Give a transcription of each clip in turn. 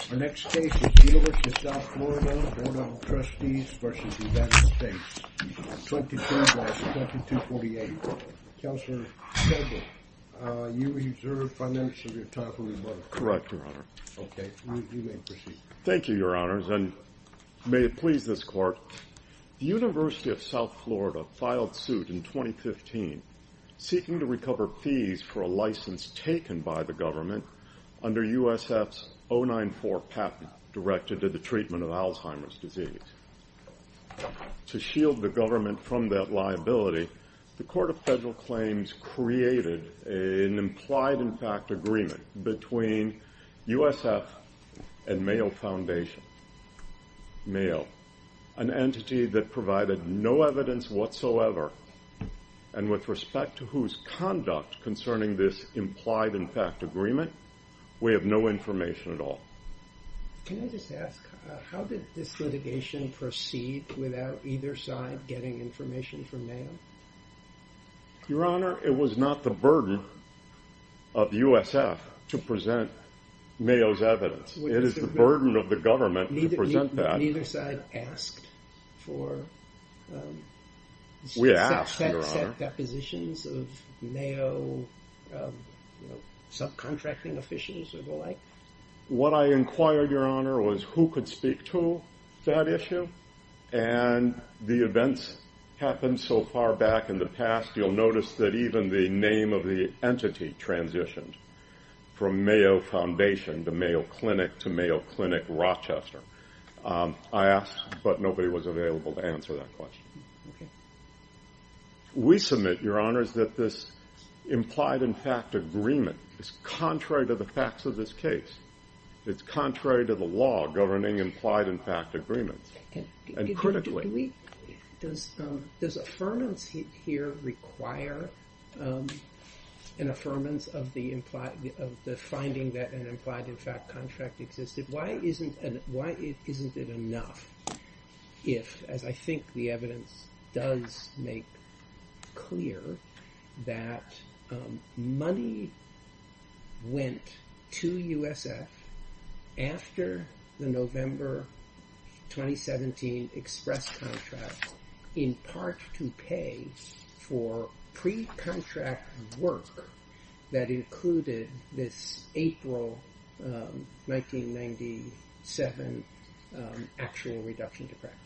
22-48. Counselor, you reserve financial of your time for rebuttal. Correct, your honor. Okay, you may proceed. Thank you, your honors, and may it please this court, the University of South Florida filed suit in 2015 seeking to recover fees for a license taken by the New York patent directed to the treatment of Alzheimer's disease. To shield the government from that liability, the Court of Federal Claims created an implied-in-fact agreement between USF and Mayo Foundation. Mayo, an entity that provided no evidence whatsoever, and with respect to whose conduct concerning this implied-in-fact agreement, we have no evidence. Can I just ask, how did this litigation proceed without either side getting information from Mayo? Your honor, it was not the burden of USF to present Mayo's evidence. It is the burden of the government to present that. Neither side asked for... We asked, your honor. Without depositions of Mayo subcontracting officials or the like? What I inquired, your honor, was who could speak to that issue, and the events happened so far back in the past you'll notice that even the name of the entity transitioned from Mayo Foundation to Mayo Clinic to Mayo Clinic Rochester. I asked, but nobody was available to answer that question. We submit, your honor, that this implied-in-fact agreement is contrary to the facts of this case. It's contrary to the law governing implied-in-fact agreements, and critically. Does affirmance here require an affirmance of the finding that an implied-in-fact contract existed? Why isn't it enough if, as I think the evidence does make clear, that money went to USF after the November 2017 express contract in part to pay for pre-contract work that led to the 1997 actual reduction to practice?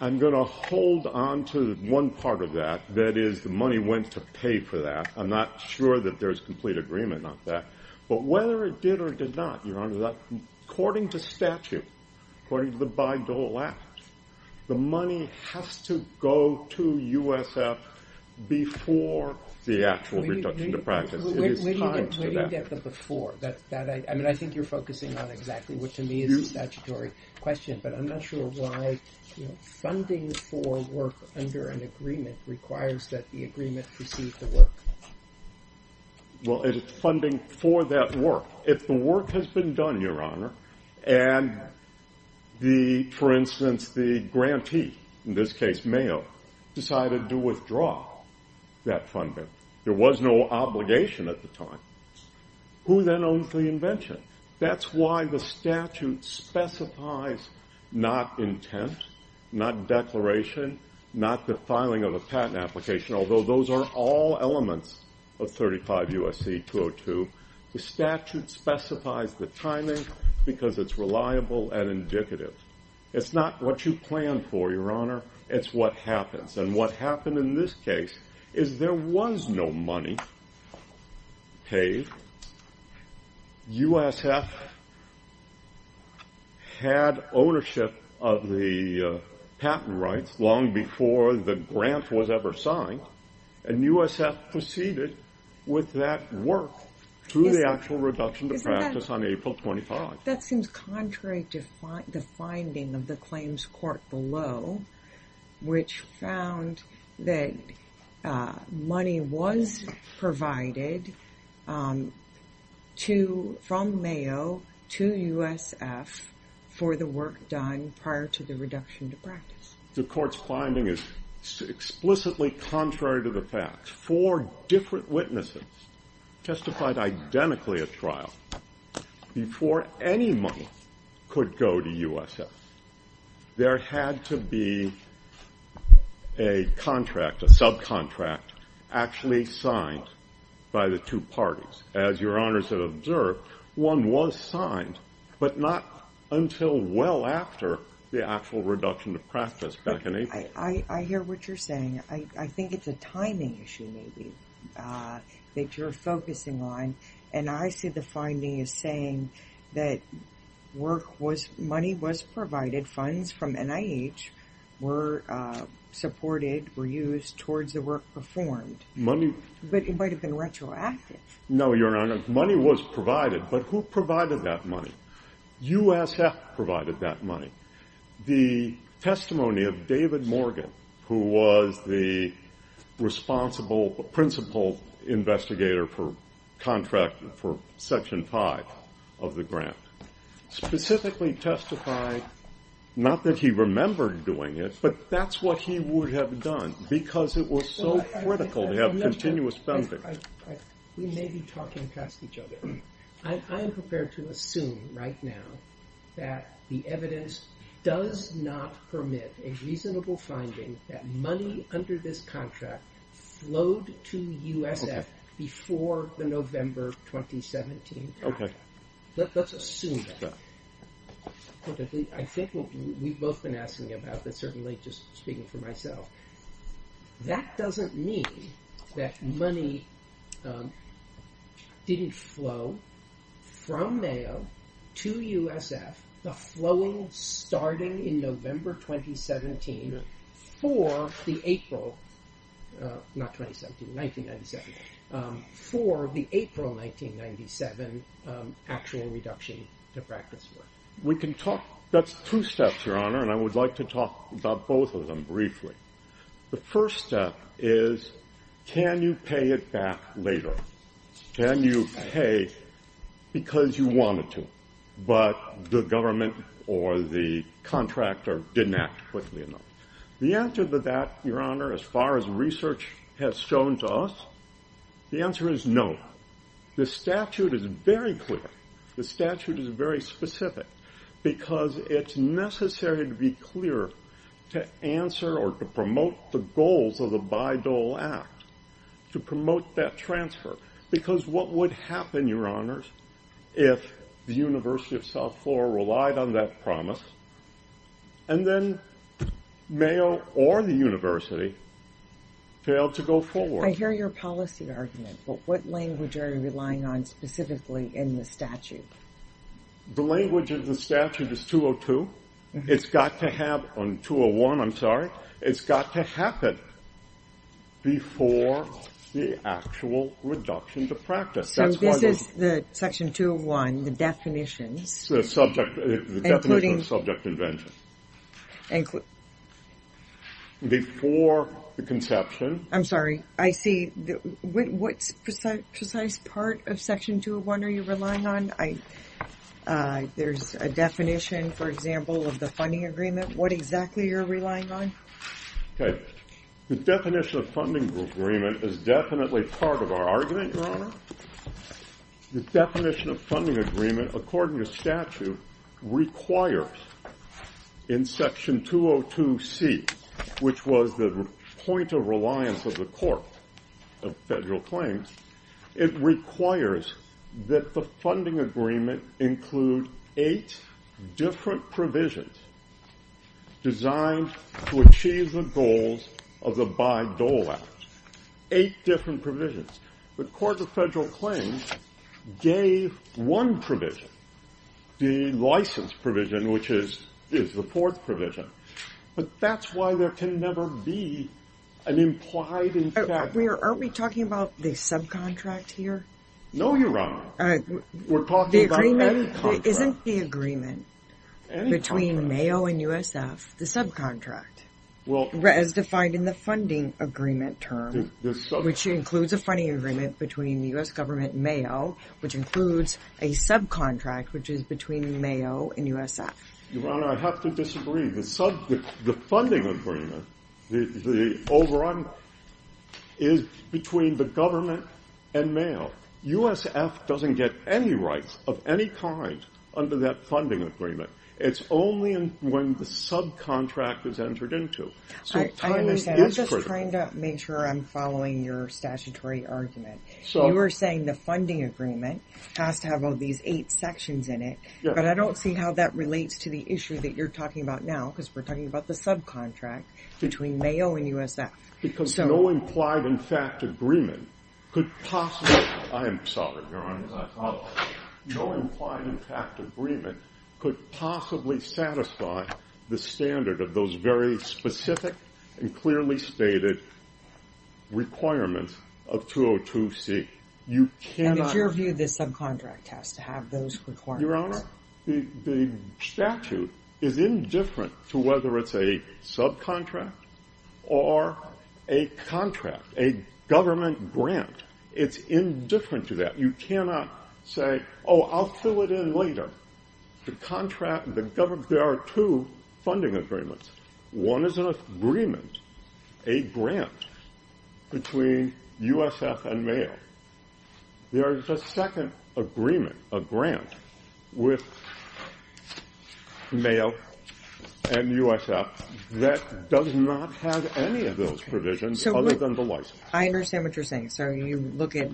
I'm going to hold onto one part of that, that is the money went to pay for that. I'm not sure that there's complete agreement on that, but whether it did or did not, your honor, according to statute, according to the Bayh-Dole Act, the money has to go to USF before the actual reduction to practice. It is tied to the for. I think you're focusing on exactly what to me is a statutory question, but I'm not sure why funding for work under an agreement requires that the agreement precede the work. Well, it's funding for that work. If the work has been done, your honor, and the, for instance, the grantee, in this case Mayo, decided to withdraw that funding, there was no obligation at the time. Who then owns the invention? That's why the statute specifies not intent, not declaration, not the filing of a patent application, although those are all elements of 35 U.S.C. 202. The statute specifies the timing because it's reliable and indicative. It's not what you plan for, your honor. It's what happens, and what happened in this case is there was no money paid. USF had ownership of the patent rights long before the grant was ever signed, and USF proceeded with that work through the actual reduction to practice on April 25. That seems contrary to the finding of the claims court below, which found that money was provided from Mayo to USF for the work done prior to the reduction to practice. The court's finding is explicitly contrary to the facts. Four different witnesses testified identically at trial before any money could go to USF. There had to be a contract, a subcontract, actually signed by the two parties. As your honors have observed, one was signed, but not until well after the actual reduction to practice back in April. I hear what you're saying. I that you're focusing on, and I see the finding as saying that money was provided, funds from NIH were supported, were used towards the work performed, but it might have been retroactive. No, your honor. Money was provided, but who provided that money? USF provided that money. The testimony of David Morgan, who was the principal investigator for section 5 of the grant, specifically testified, not that he remembered doing it, but that's what he would have done, because it was so critical to have continuous funding. We may be talking past each other. I am prepared to assume right now that the evidence does not permit a reasonable finding that money under this contract flowed to USF before the November 2017 time. Let's assume that. I think what we've both been asking about, but certainly just speaking for myself, that doesn't mean that money didn't flow from Mayo to USF, the flowing starting in November 2017 for the April, not 2017, 1997, for the April 1997 actual reduction to practice work. That's two steps, your honor, and I would like to talk about both of them briefly. The first step is, can you pay it back later? Can you pay because you wanted to, but the government or the contractor didn't act quickly enough? The answer to that, your honor, as far as research has shown to us, the answer is no. The statute is very clear. The statute is very specific because it's necessary to be clear to answer or to promote the goals of the Bayh-Dole Act, to promote that transfer, because what would happen, your honors, if the University of South Florida relied on that promise and then Mayo or the university failed to go forward? I hear your policy argument, but what language are you relying on specifically in the statute? The language of the statute is 202. It's got to have, on 201, I'm sorry, it's got to happen before the actual reduction to practice. So this is the section 201, the definitions. The definition of subject invention. Before the conception. I'm sorry, I see. What precise part of section 201 are you relying on? There's a definition, for example, of the funding agreement. What exactly are you relying on? Okay. The definition of funding agreement is definitely part of our argument, your honor. The definition of funding agreement, according to statute, requires in section 202C, which was the point of reliance of the court of federal claims, it requires that the funding agreement include eight different provisions designed to achieve the goals of the Bayh-Dole Act. Eight different provisions. The court of federal claims gave one provision, the license provision, which is the fourth provision. But that's why there can never be an implied... Aren't we talking about the subcontract here? No, your honor. We're talking about any contract. Isn't the agreement between Mayo and USF, the subcontract, as defined in the funding agreement term, which includes a funding agreement between the US government and Mayo, which includes a USF? Your honor, I have to disagree. The funding agreement, the overrun, is between the government and Mayo. USF doesn't get any rights of any kind under that funding agreement. It's only when the subcontract is entered into. I understand. I'm just trying to make sure I'm following your statutory argument. You were saying the funding agreement has to have all these eight sections in it, but I don't see how that relates to the issue that you're talking about now, because we're talking about the subcontract between Mayo and USF. Because no implied in fact agreement could possibly... I am sorry, your honor. No implied in fact agreement could possibly satisfy the standard of those very specific and clearly stated requirements of 202C. And in your view, the subcontract has to have those requirements? Your honor, the statute is indifferent to whether it's a subcontract or a contract, a government grant. It's indifferent to that. You cannot say, oh, I'll fill it in later. The contract, the government, there are two funding agreements. One is an agreement, a grant between USF and Mayo. There is a second agreement, a grant with Mayo and USF that does not have any of those provisions other than the license. I understand what you're saying. So you look at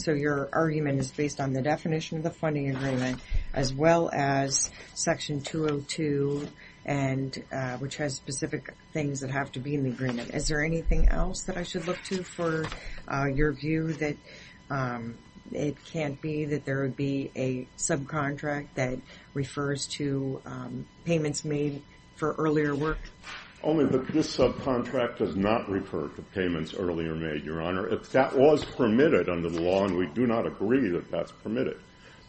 so your argument is based on the definition of the funding agreement, as well as section 202, which has specific things that have to be in the agreement. Is there anything else that I should look to for your view that it can't be that there would be a subcontract that refers to payments made for earlier work? Only that this subcontract does not refer to under the law, and we do not agree that that's permitted.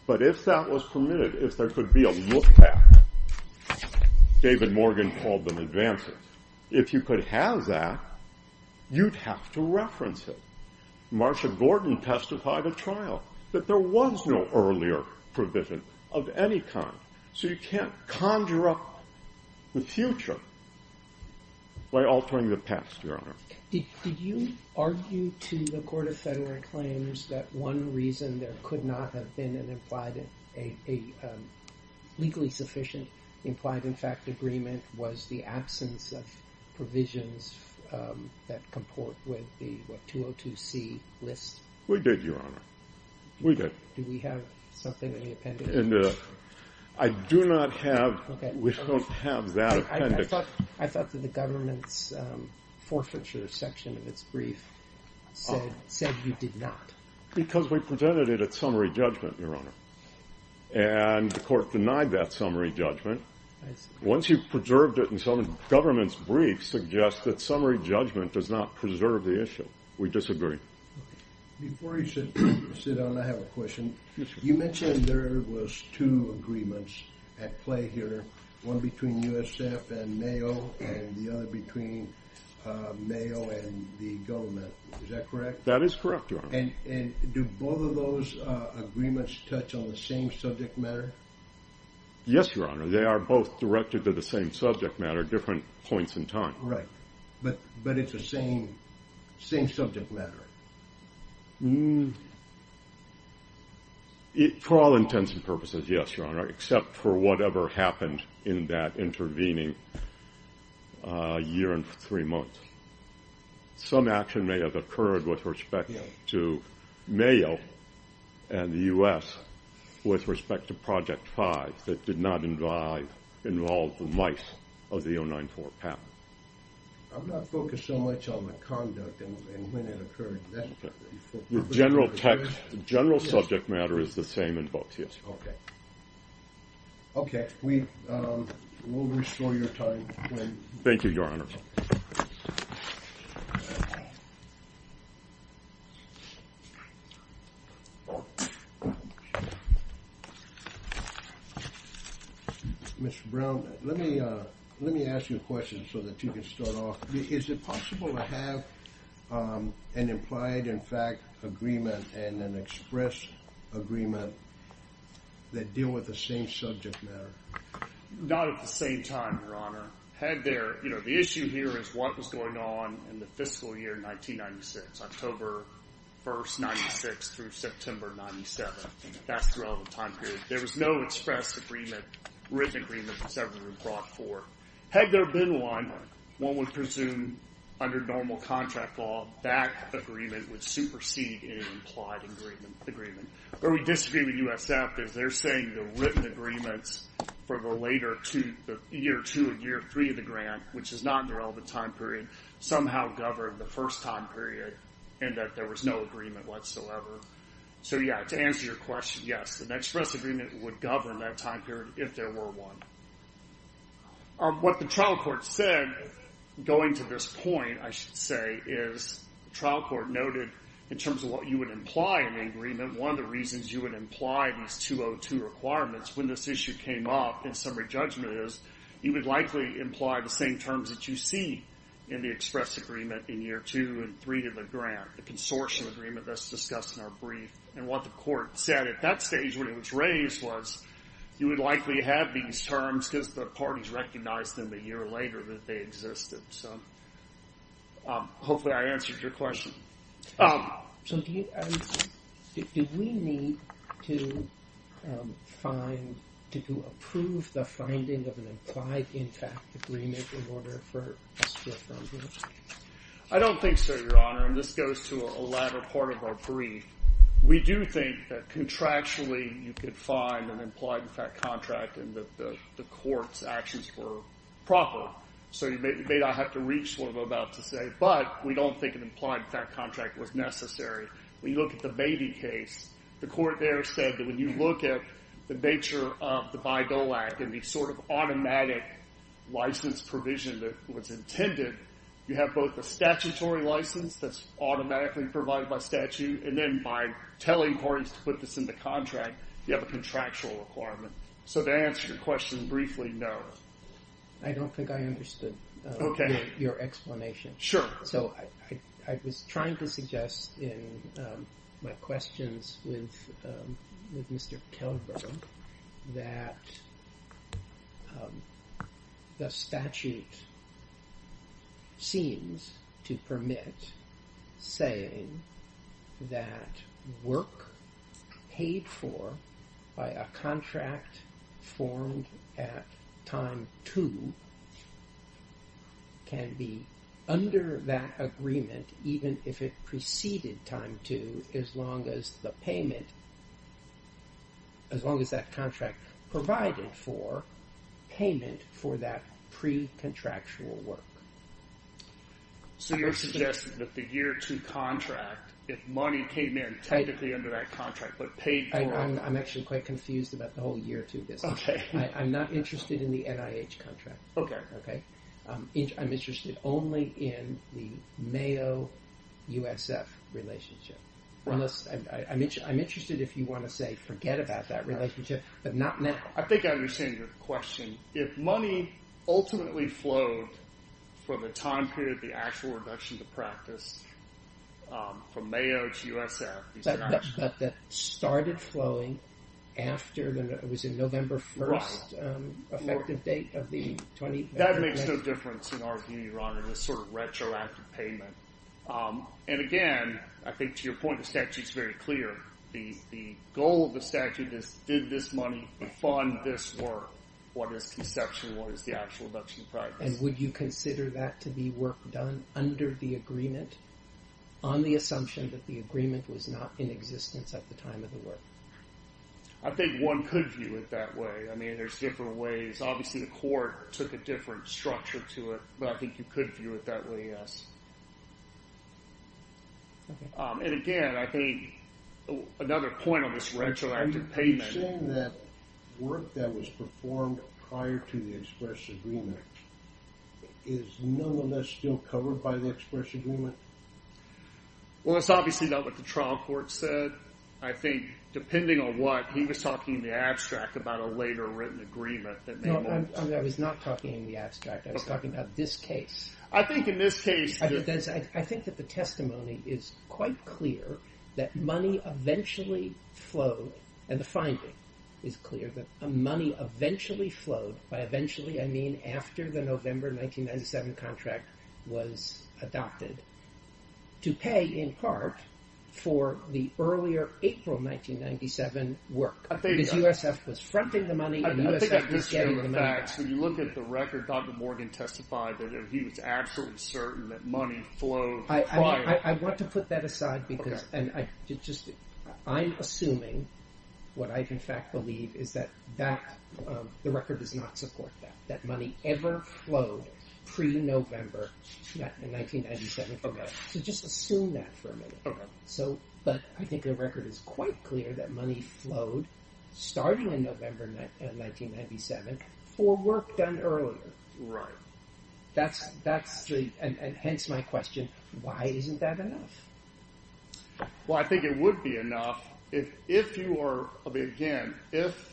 But if that was permitted, if there could be a look back, David Morgan called them advances. If you could have that, you'd have to reference it. Marsha Gordon testified at trial that there was no earlier provision of any kind. So you can't conjure up the future by altering the past, your honor. Did you argue to the Court of Federal Claims that one reason there could not have been an legally sufficient implied in fact agreement was the absence of provisions that comport with the 202c list? We did, your honor. We did. Do we have something in the appendix? And I do not have, we don't have that appendix. I thought that the government's forfeiture section of its brief said you did not. Because we presented it at summary judgment, your honor. And the court denied that summary judgment. Once you've preserved it in some government's brief, suggest that summary judgment does not preserve the issue. We disagree. Before you sit down, I have a question. You mentioned there was two agreements at play here, one between USF and Mayo and the other between Mayo and the government. Is that correct? That is correct, your honor. And do both of those agreements touch on the same subject matter? Yes, your honor. They are both directed to the same subject matter, different points in time. Right. But it's the same subject matter. For all intents and purposes, yes, your honor, except for whatever happened in that intervening year and three months. Some action may have occurred with respect to Mayo and the US with respect to project five that did not involve the mice of the 094 path. I'm not focused so much on the conduct and when it occurred. General text, general subject matter is the same in both. Yes. Okay. Okay. We will restore your time. Thank you, your honor. Mr. Brown, let me let me ask you a question so that you can start off. Is it possible to have an implied, in fact, agreement and an express agreement that deal with the same subject matter? Not at the same time, your honor. Had there, you know, the issue here is what was going on in the fiscal year 1996, October 1st, 96 through September 97. That's the relevant time period. There was no express agreement, written agreement that's ever been brought for. Had there been one, one would presume under normal contract law, that agreement would supersede in an implied agreement agreement. Where we disagree with USF is they're saying the written agreements for the later two, the year two and year three of the grant, which is not in the relevant time somehow governed the first time period and that there was no agreement whatsoever. So, yeah, to answer your question, yes, the express agreement would govern that time period if there were one. What the trial court said going to this point, I should say, is trial court noted in terms of what you would imply in the agreement, one of the reasons you would imply these 202 requirements when this issue came up in summary judgment is you would likely imply the same terms that you see in the express agreement in year two and three to the grant. The consortium agreement that's discussed in our brief and what the court said at that stage when it was raised was you would likely have these terms because the parties recognized them a year later that they existed. So hopefully I answered your question. So do we need to find, to approve the finding of an implied intact agreement in order for us to approve it? I don't think so, Your Honor, and this goes to a latter part of our brief. We do think that contractually you could find an implied contract and that the court's actions were proper. So you may not have to reach what I'm about to say, but we don't think an implied contract was necessary. When you look at the Baby case, the court there when you look at the nature of the Bayh-Dole Act and the sort of automatic license provision that was intended, you have both the statutory license that's automatically provided by statute and then by telling parties to put this in the contract, you have a contractual requirement. So to answer your question briefly, no. I don't think I understood your explanation. Sure. So I was trying to suggest in my questions with Mr. Kelber that the statute seems to permit saying that work paid for by a contract formed at time two can be under that agreement even if it preceded time two as long as the payment, as long as that contract provided for payment for that pre-contractual work. So you're suggesting that the year two contract, if money came in technically under that contract but paid for... I'm actually quite confused about the whole year two business. Okay. I'm not interested in the NIH contract. Okay. Okay. I'm interested only in the Mayo-USF relationship. I'm interested if you want to say forget about that relationship but not now. I think I understand your question. If money ultimately flowed for the time period, the actual reduction to practice from Mayo to USF... But that started flowing after, when it was in November 1st, effective date of the... That makes no difference in our view, your honor, this sort of retroactive payment. And again, I think to your point, the statute's very clear. The goal of the statute is did this money fund this work? What is conception? What is the actual reduction in practice? And would you consider that to be work done under the agreement on the assumption that the agreement was not in existence at the time of the work? I think one could view it that way. I mean there's different ways. Obviously the court took a different structure to it, but I think you could view it that way, yes. And again, I think another point on this retroactive payment... Are you saying that work that was performed prior to the express agreement is no less still covered by the express agreement? Well, it's obviously not what the trial court said. I think depending on what, he was talking in the abstract about a later written agreement. No, I was not talking in the abstract. I was talking about this case. I think in this case... I think that the testimony is quite clear that money eventually flowed, by eventually I mean after the November 1997 contract was adopted, to pay in part for the earlier April 1997 work. Because USF was fronting the money and USF was getting the money back. So you look at the record, Dr. Morgan testified that he was absolutely certain that money flowed. I want to put that aside because I'm assuming what I in fact believe is that that the record does not support that. That money ever flowed pre-November 1997 contract. So just assume that for a minute. But I think the record is quite clear that money flowed starting in November 1997 for work done earlier. Right. And hence my question, why isn't that enough? Well, I think it would be enough if you are, again, if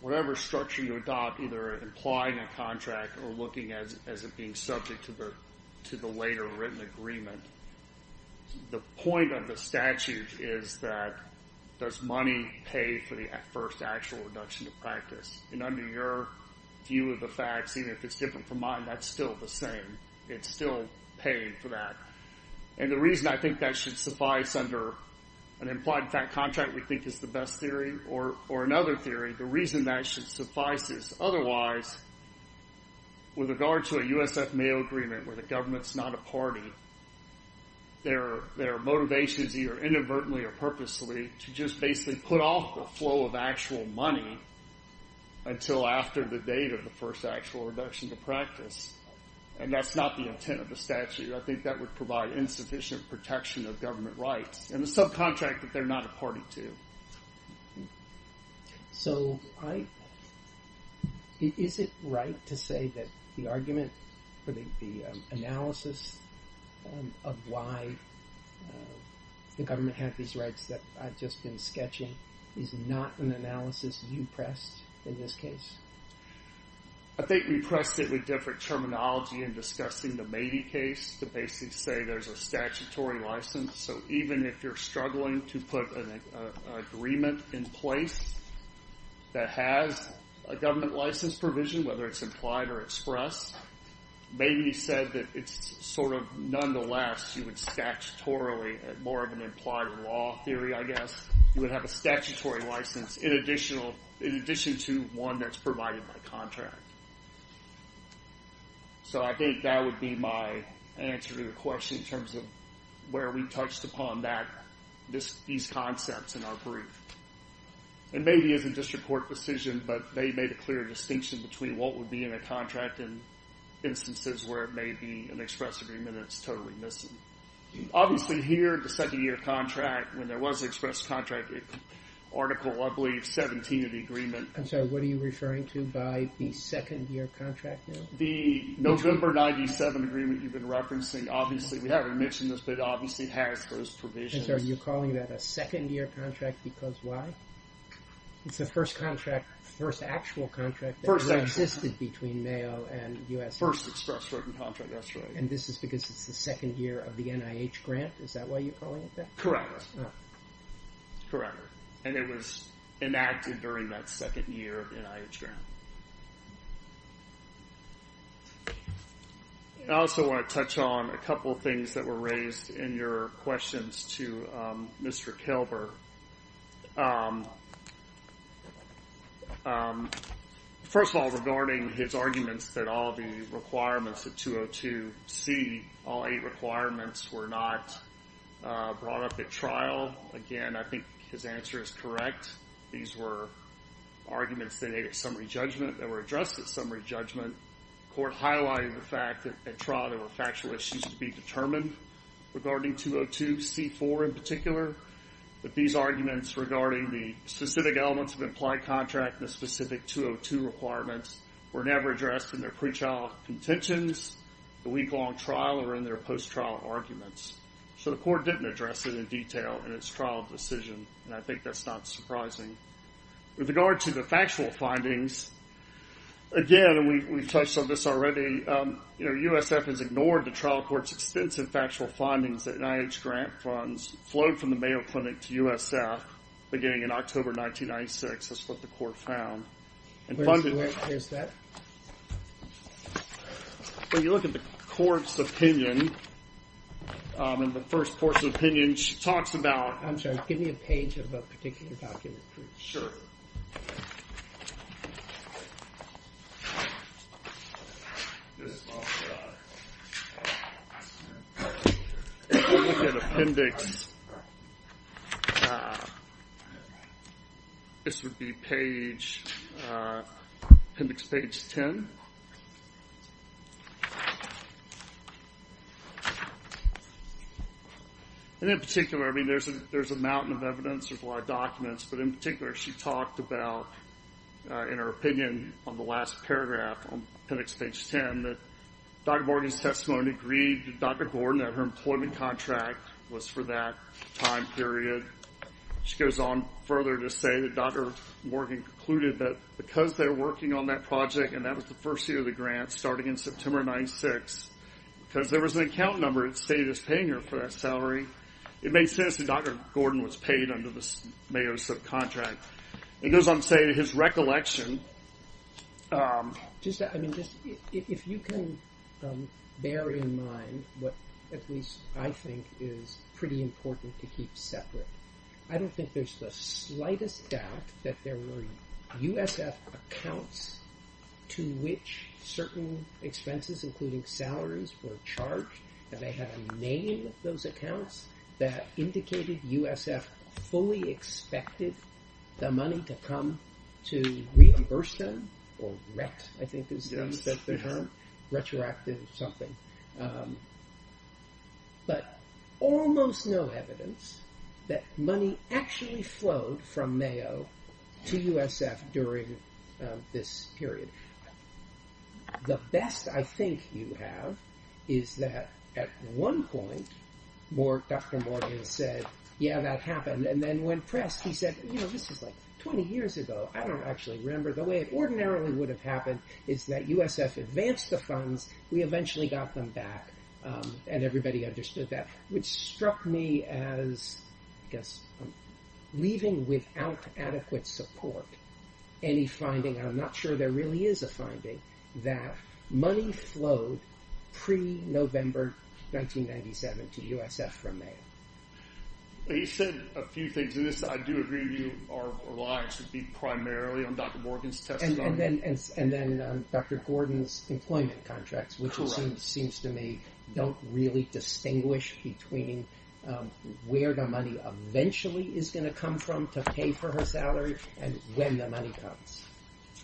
whatever structure you adopt, either implying a contract or looking at as it being subject to the later written agreement, the point of the statute is that does money pay for the first actual reduction of practice? And under your view of the facts, even if it's different from mine, that's still the same. It's still paid for that. And the reason I think that should suffice under an implied fact contract we think is the best theory or another theory, the reason that should suffice is otherwise with regard to a USF-Mayo agreement where the government's not a party, their motivation is either inadvertently or purposely to just basically put off the flow of actual money until after the date of the first actual reduction to practice. And that's not the intent of the statute. I think that would provide insufficient protection of government rights and the subcontract that they're not a party to. So is it right to say that the argument for the analysis of why the government had these rights that I've just been sketching is not an analysis you pressed in this case? I think we pressed it with different terminology in discussing the Mady case to basically say there's a statutory license. So even if you're struggling to put an agreement in place that has a government license provision, whether it's implied or expressed, Mady said that it's sort of nonetheless you would statutorily, more of an implied law theory I guess, you would have a statutory license in addition to one that's provided by contract. So I think that would be my answer to the question in terms of where we touched upon these concepts in our brief. And Mady isn't just a court decision, but they made a clear distinction between what would be in a contract in instances where it may be an express agreement that's totally missing. Obviously here the second year contract, when there was an express contract, Article I believe 17 of the agreement. I'm sorry, what are you referring to by the second year contract now? The November 97 agreement you've been referencing. Obviously we haven't mentioned this, but it obviously has those provisions. So you're calling that a second year contract because why? It's the first contract, first actual contract that existed between Mayo and US. First express written contract, that's right. And this is because it's the second year of the NIH grant, is that why you're calling it that? Correct, correct. And it was enacted during that second year of the NIH grant. I also want to touch on a couple things that were raised in your questions to Mr. Kilbur. First of all, regarding his arguments that all the requirements of 202C, all eight requirements were not brought up at trial. Again, I think his answer is correct. These were arguments that were addressed at summary judgment. Court highlighted the fact at trial there were factual issues to be determined regarding 202C4 in particular, but these arguments regarding the specific elements of implied contract and the specific 202 requirements were never addressed in their pre-trial contentions, the week-long trial, or in their post-trial arguments. So the court didn't address it in detail in its trial decision, and I think that's not surprising. With regard to the factual findings, again, and we've touched on this already, USF has ignored the trial court's extensive factual findings that NIH grant funds flowed from the Mayo Clinic to USF beginning in October 1996. That's what the court found. When you look at the court's opinion, in the first portion of the opinion, she talks about... I'm sorry, give me a page of a particular document, please. Sure. This would be appendix page 10. And in particular, I mean, there's a mountain of evidence, there's a lot of documents, but in particular, she talked about, in her opinion on the last paragraph on appendix page 10, that Dr. Morgan's testimony agreed with Dr. Gordon that her employment contract was for that time period. She goes on further to say that Dr. Morgan concluded that because they were working on that project, and that was the first year of the grant, starting in September 1996, because there was an account number that stated it was paying her for that salary, it made sense that Dr. Gordon was paid under the Mayo subcontract. It goes on to say that his recollection... I mean, if you can bear in mind what at least I think is pretty important to keep separate, I don't think there's the slightest doubt that there were USF accounts to which certain expenses, including salaries, were charged, and they had a name of those accounts that indicated USF fully expected the money to come to reimburse them, or ret, I think is the term, retroactive something. But almost no evidence that money actually flowed from Mayo to USF during this period. The best I think you have is that at one point, Dr. Morgan said, yeah, that happened, and then when pressed, he said, you know, this is like 20 years ago, I don't actually remember, the way it ordinarily would have happened is that USF advanced the funds, we eventually got them back, and everybody understood that, which struck me as, I guess, leaving without adequate support any finding, and I'm not sure there really is a finding, that money flowed pre-November 1997 to USF from Mayo. He said a few things in this, I do agree with you, our reliance would be primarily on Dr. Morgan's testimony. And then Dr. Gordon's employment contracts, which seems to me, don't really distinguish between where the money eventually is going to come from to pay for her salary, and when the money comes.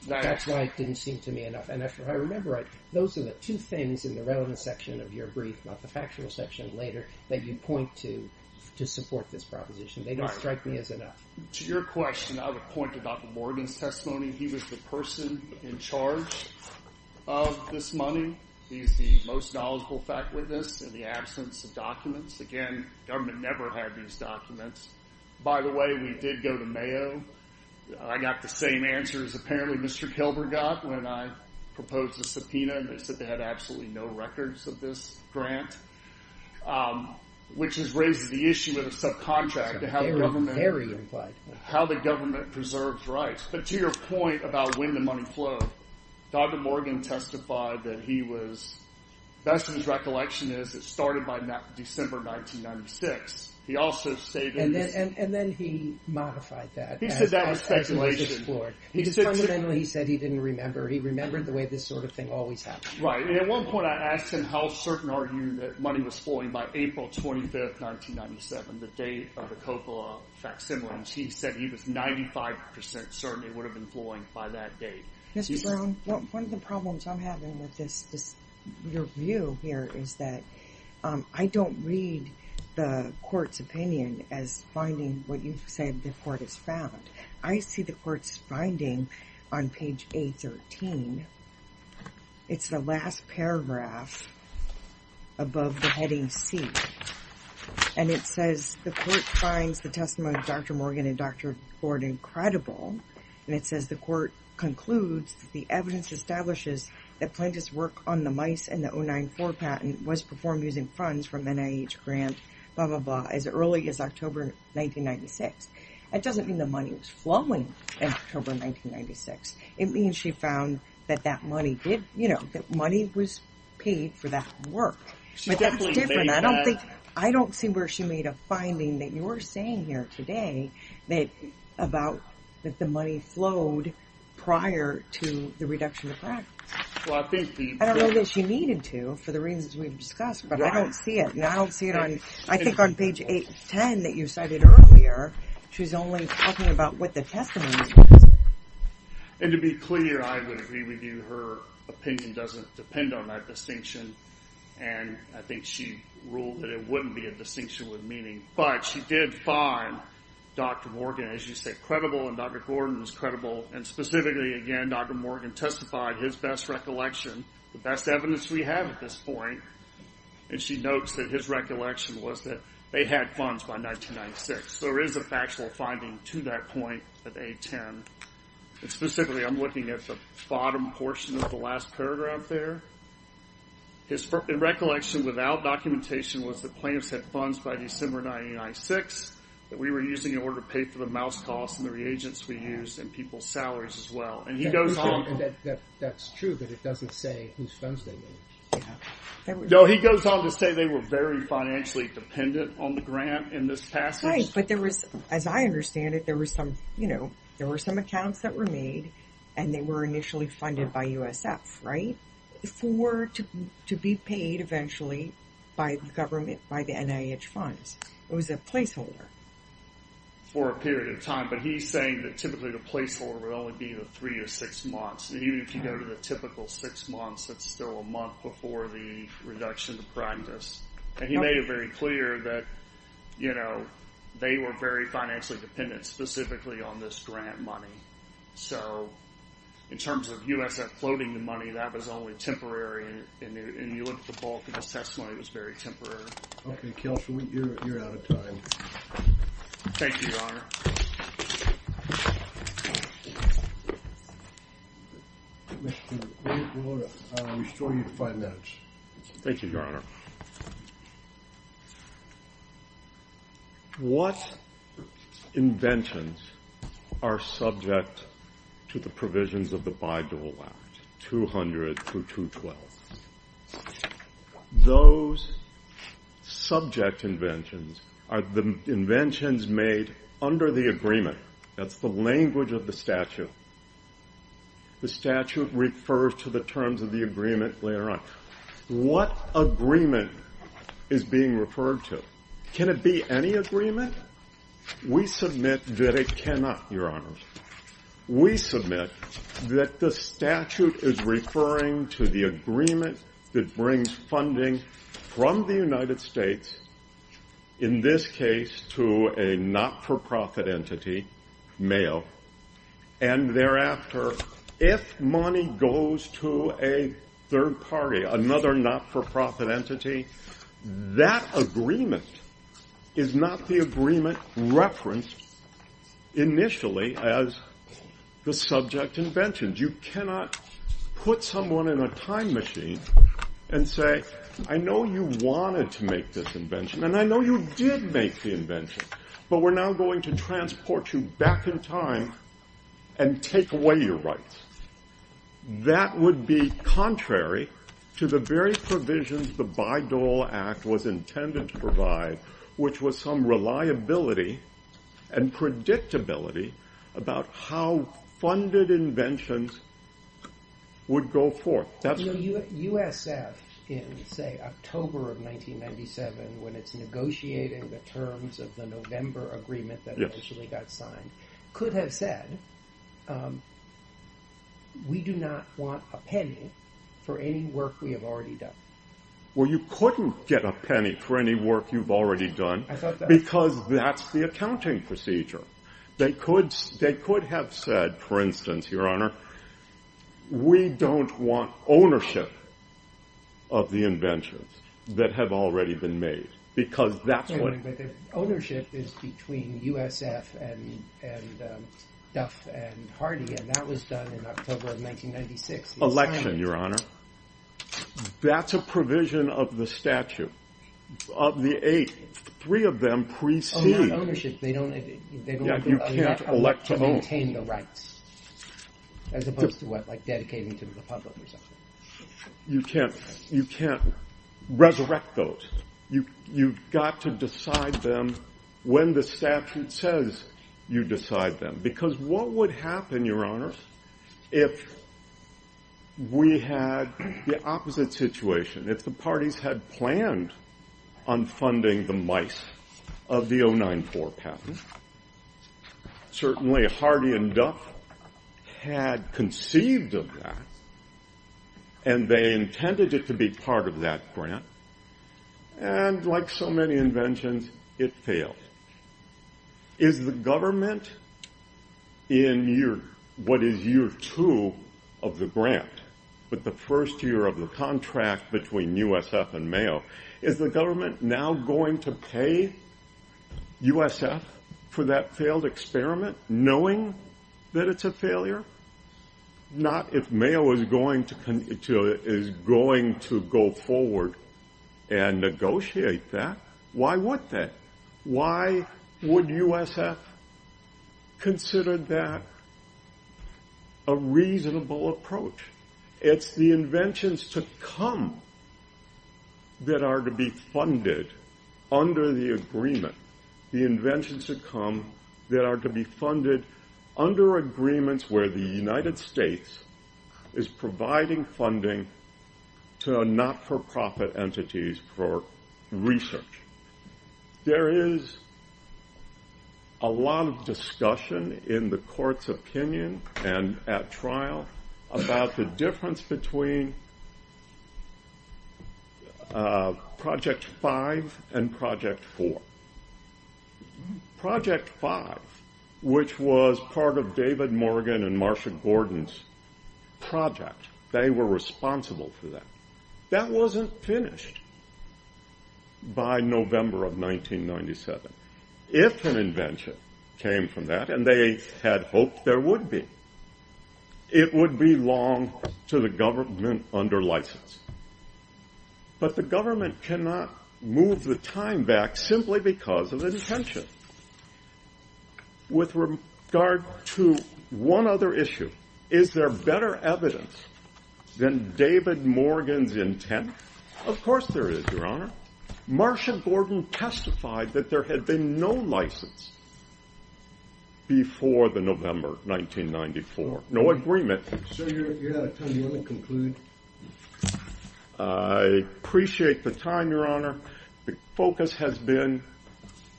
That's why it didn't seem to me enough, and I remember, those are the two things in the relevant section of your brief, about the factual section later, that you point to, to support this proposition. They don't strike me as enough. To your question, I would point to Dr. Morgan's testimony. He was the person in charge of this money. He's the most knowledgeable fact witness in the absence of documents. Again, government never had these documents. By the way, we did go to Mayo. I got the same answers, apparently, Mr. Kilberg got, when I proposed a subpoena, and they said they had absolutely no records of this grant, which has raised the issue of the subcontract. Very implied. How the government preserves rights. But to your point about when the money flowed, Dr. Morgan testified that he was, best of his recollection is, it started by December 1996. He also stated... And then he modified that. He said that was speculation. He said he didn't remember. He remembered the way this sort of thing always happens. Right, and at one point I asked him how certain are you that money was flowing by April 25th, 1997, the date of the Coppola facsimiles. He said he was 95% certain it would have been flowing by that date. Mr. Brown, one of the problems I'm having with this, your view here, is that I don't read the court's opinion as finding what you've said the court has found. I see the court's finding on page 813. It's the last paragraph above the heading C, and it says the court finds the testimony of Dr. Morgan and Dr. Gordon credible, and it says the court concludes the evidence establishes that plaintiff's work on the MICE and the 094 patent was performed using funds from NIH grant, blah, blah, blah, as early as October 1996. That doesn't mean the money was flowing in October 1996. It means she found that that money did, you know, that money was paid for that work, but that's different. I don't think, I don't see where she made a finding that you're saying here today that about that the money flowed prior to the reduction of practice. I don't know that she needed to for the reasons we've discussed, but I don't see it, I don't see it on, I think on page 810 that you cited earlier, she's only talking about what the testimony is. And to be clear, I would agree with you, her opinion doesn't depend on that distinction, and I think she ruled that it wouldn't be a distinction with meaning, but she did find Dr. Morgan, as you say, credible, and Dr. Gordon was credible, and specifically, again, Dr. Morgan testified his best recollection, the best evidence we have at this point, and she notes that his recollection was that they had funds by 1996. So there is a factual finding to that point at 810. And specifically, I'm looking at the bottom portion of the last paragraph there. His recollection without documentation was that plaintiffs had funds by December 1996 that we were using in order to pay for the mouse costs and the reagents we used and people's That's true, but it doesn't say whose funds they made. No, he goes on to say they were very financially dependent on the grant in this passage. Right, but there was, as I understand it, there were some, you know, there were some accounts that were made, and they were initially funded by USF, right, for, to be paid eventually by the government, by the NIH funds. It was a placeholder. For a period of time, but he's saying that typically the placeholder would only be the six months, and even if you go to the typical six months, that's still a month before the reduction to primed us. And he made it very clear that, you know, they were very financially dependent specifically on this grant money. So in terms of USF floating the money, that was only temporary, and you look at the bulk of his testimony, it was very temporary. Okay, Kels, you're out of time. Thank you, Your Honor. Mr. McClure, I'll restore you to five minutes. Thank you, Your Honor. What inventions are subject to the provisions of the Bayh-Dole Act, 200 through 212? Those subject inventions are the inventions made under the agreement, that's the language of the statute. The statute refers to the terms of the agreement later on. What agreement is being referred to? Can it be any agreement? We submit that it cannot, Your Honors. We submit that the statute is referring to the agreement that brings funding from the United States, in this case to a not-for-profit entity, Mayo, and thereafter, if money goes to a third party, another not-for-profit entity, that agreement is not the agreement referenced initially as the subject invention. You cannot put someone in a time machine and say, I know you wanted to make this invention, and I know you did make the invention, but we're now going to transport you back in time and take away your rights. That would be contrary to the very provisions the Bayh-Dole Act was and would go forth. USF in, say, October of 1997, when it's negotiating the terms of the November agreement that initially got signed, could have said, we do not want a penny for any work we have already done. Well, you couldn't get a penny for any work you've already done, because that's the We don't want ownership of the inventions that have already been made, because that's what Wait a minute. Ownership is between USF and Duff and Hardy, and that was done in October of 1996. Election, Your Honor. That's a provision of the statute, of the eight. Three of them precede Oh, not ownership. They don't elect to maintain the rights, as opposed to what, like dedicating to the public or something. You can't resurrect those. You've got to decide them when the statute says you decide them, because what would happen, Your Honor, if we had the opposite situation, if the parties had planned on funding the mice of the 094 patent, certainly Hardy and Duff had conceived of that, and they intended it to be part of that grant, and like so many inventions, it failed. Is the government in what is year two of the grant, with the first year of the contract between the government now going to pay USF for that failed experiment, knowing that it's a failure? Not if Mayo is going to go forward and negotiate that. Why would that? Why would USF consider that a reasonable approach? It's the inventions to come that are to be funded under the agreement. The inventions to come that are to be funded under agreements where the United of discussion in the court's opinion and at trial about the difference between Project 5 and Project 4. Project 5, which was part of David Morgan and Marsha Gordon's project, they were responsible for that. That wasn't finished by November of 1997. If an invention came from that, and they had hoped there would be, it would belong to the government under license. But the government cannot move the time back simply because of intention. With regard to one other issue, is there better evidence than David Morgan's intent? Of course there is, Your Honor. Marsha Gordon testified that there had been no license before the November 1994. No agreement. I appreciate the time, Your Honor. The focus has been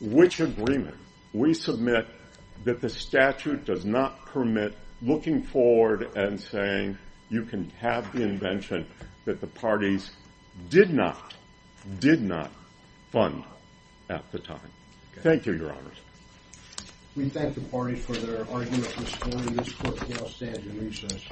which agreement we submit that the statute does not permit looking forward and saying you can have the invention that the parties did not, did not fund at the time. Thank you, Your Honor. We thank the party for their argument this morning. This court may now stand in recess.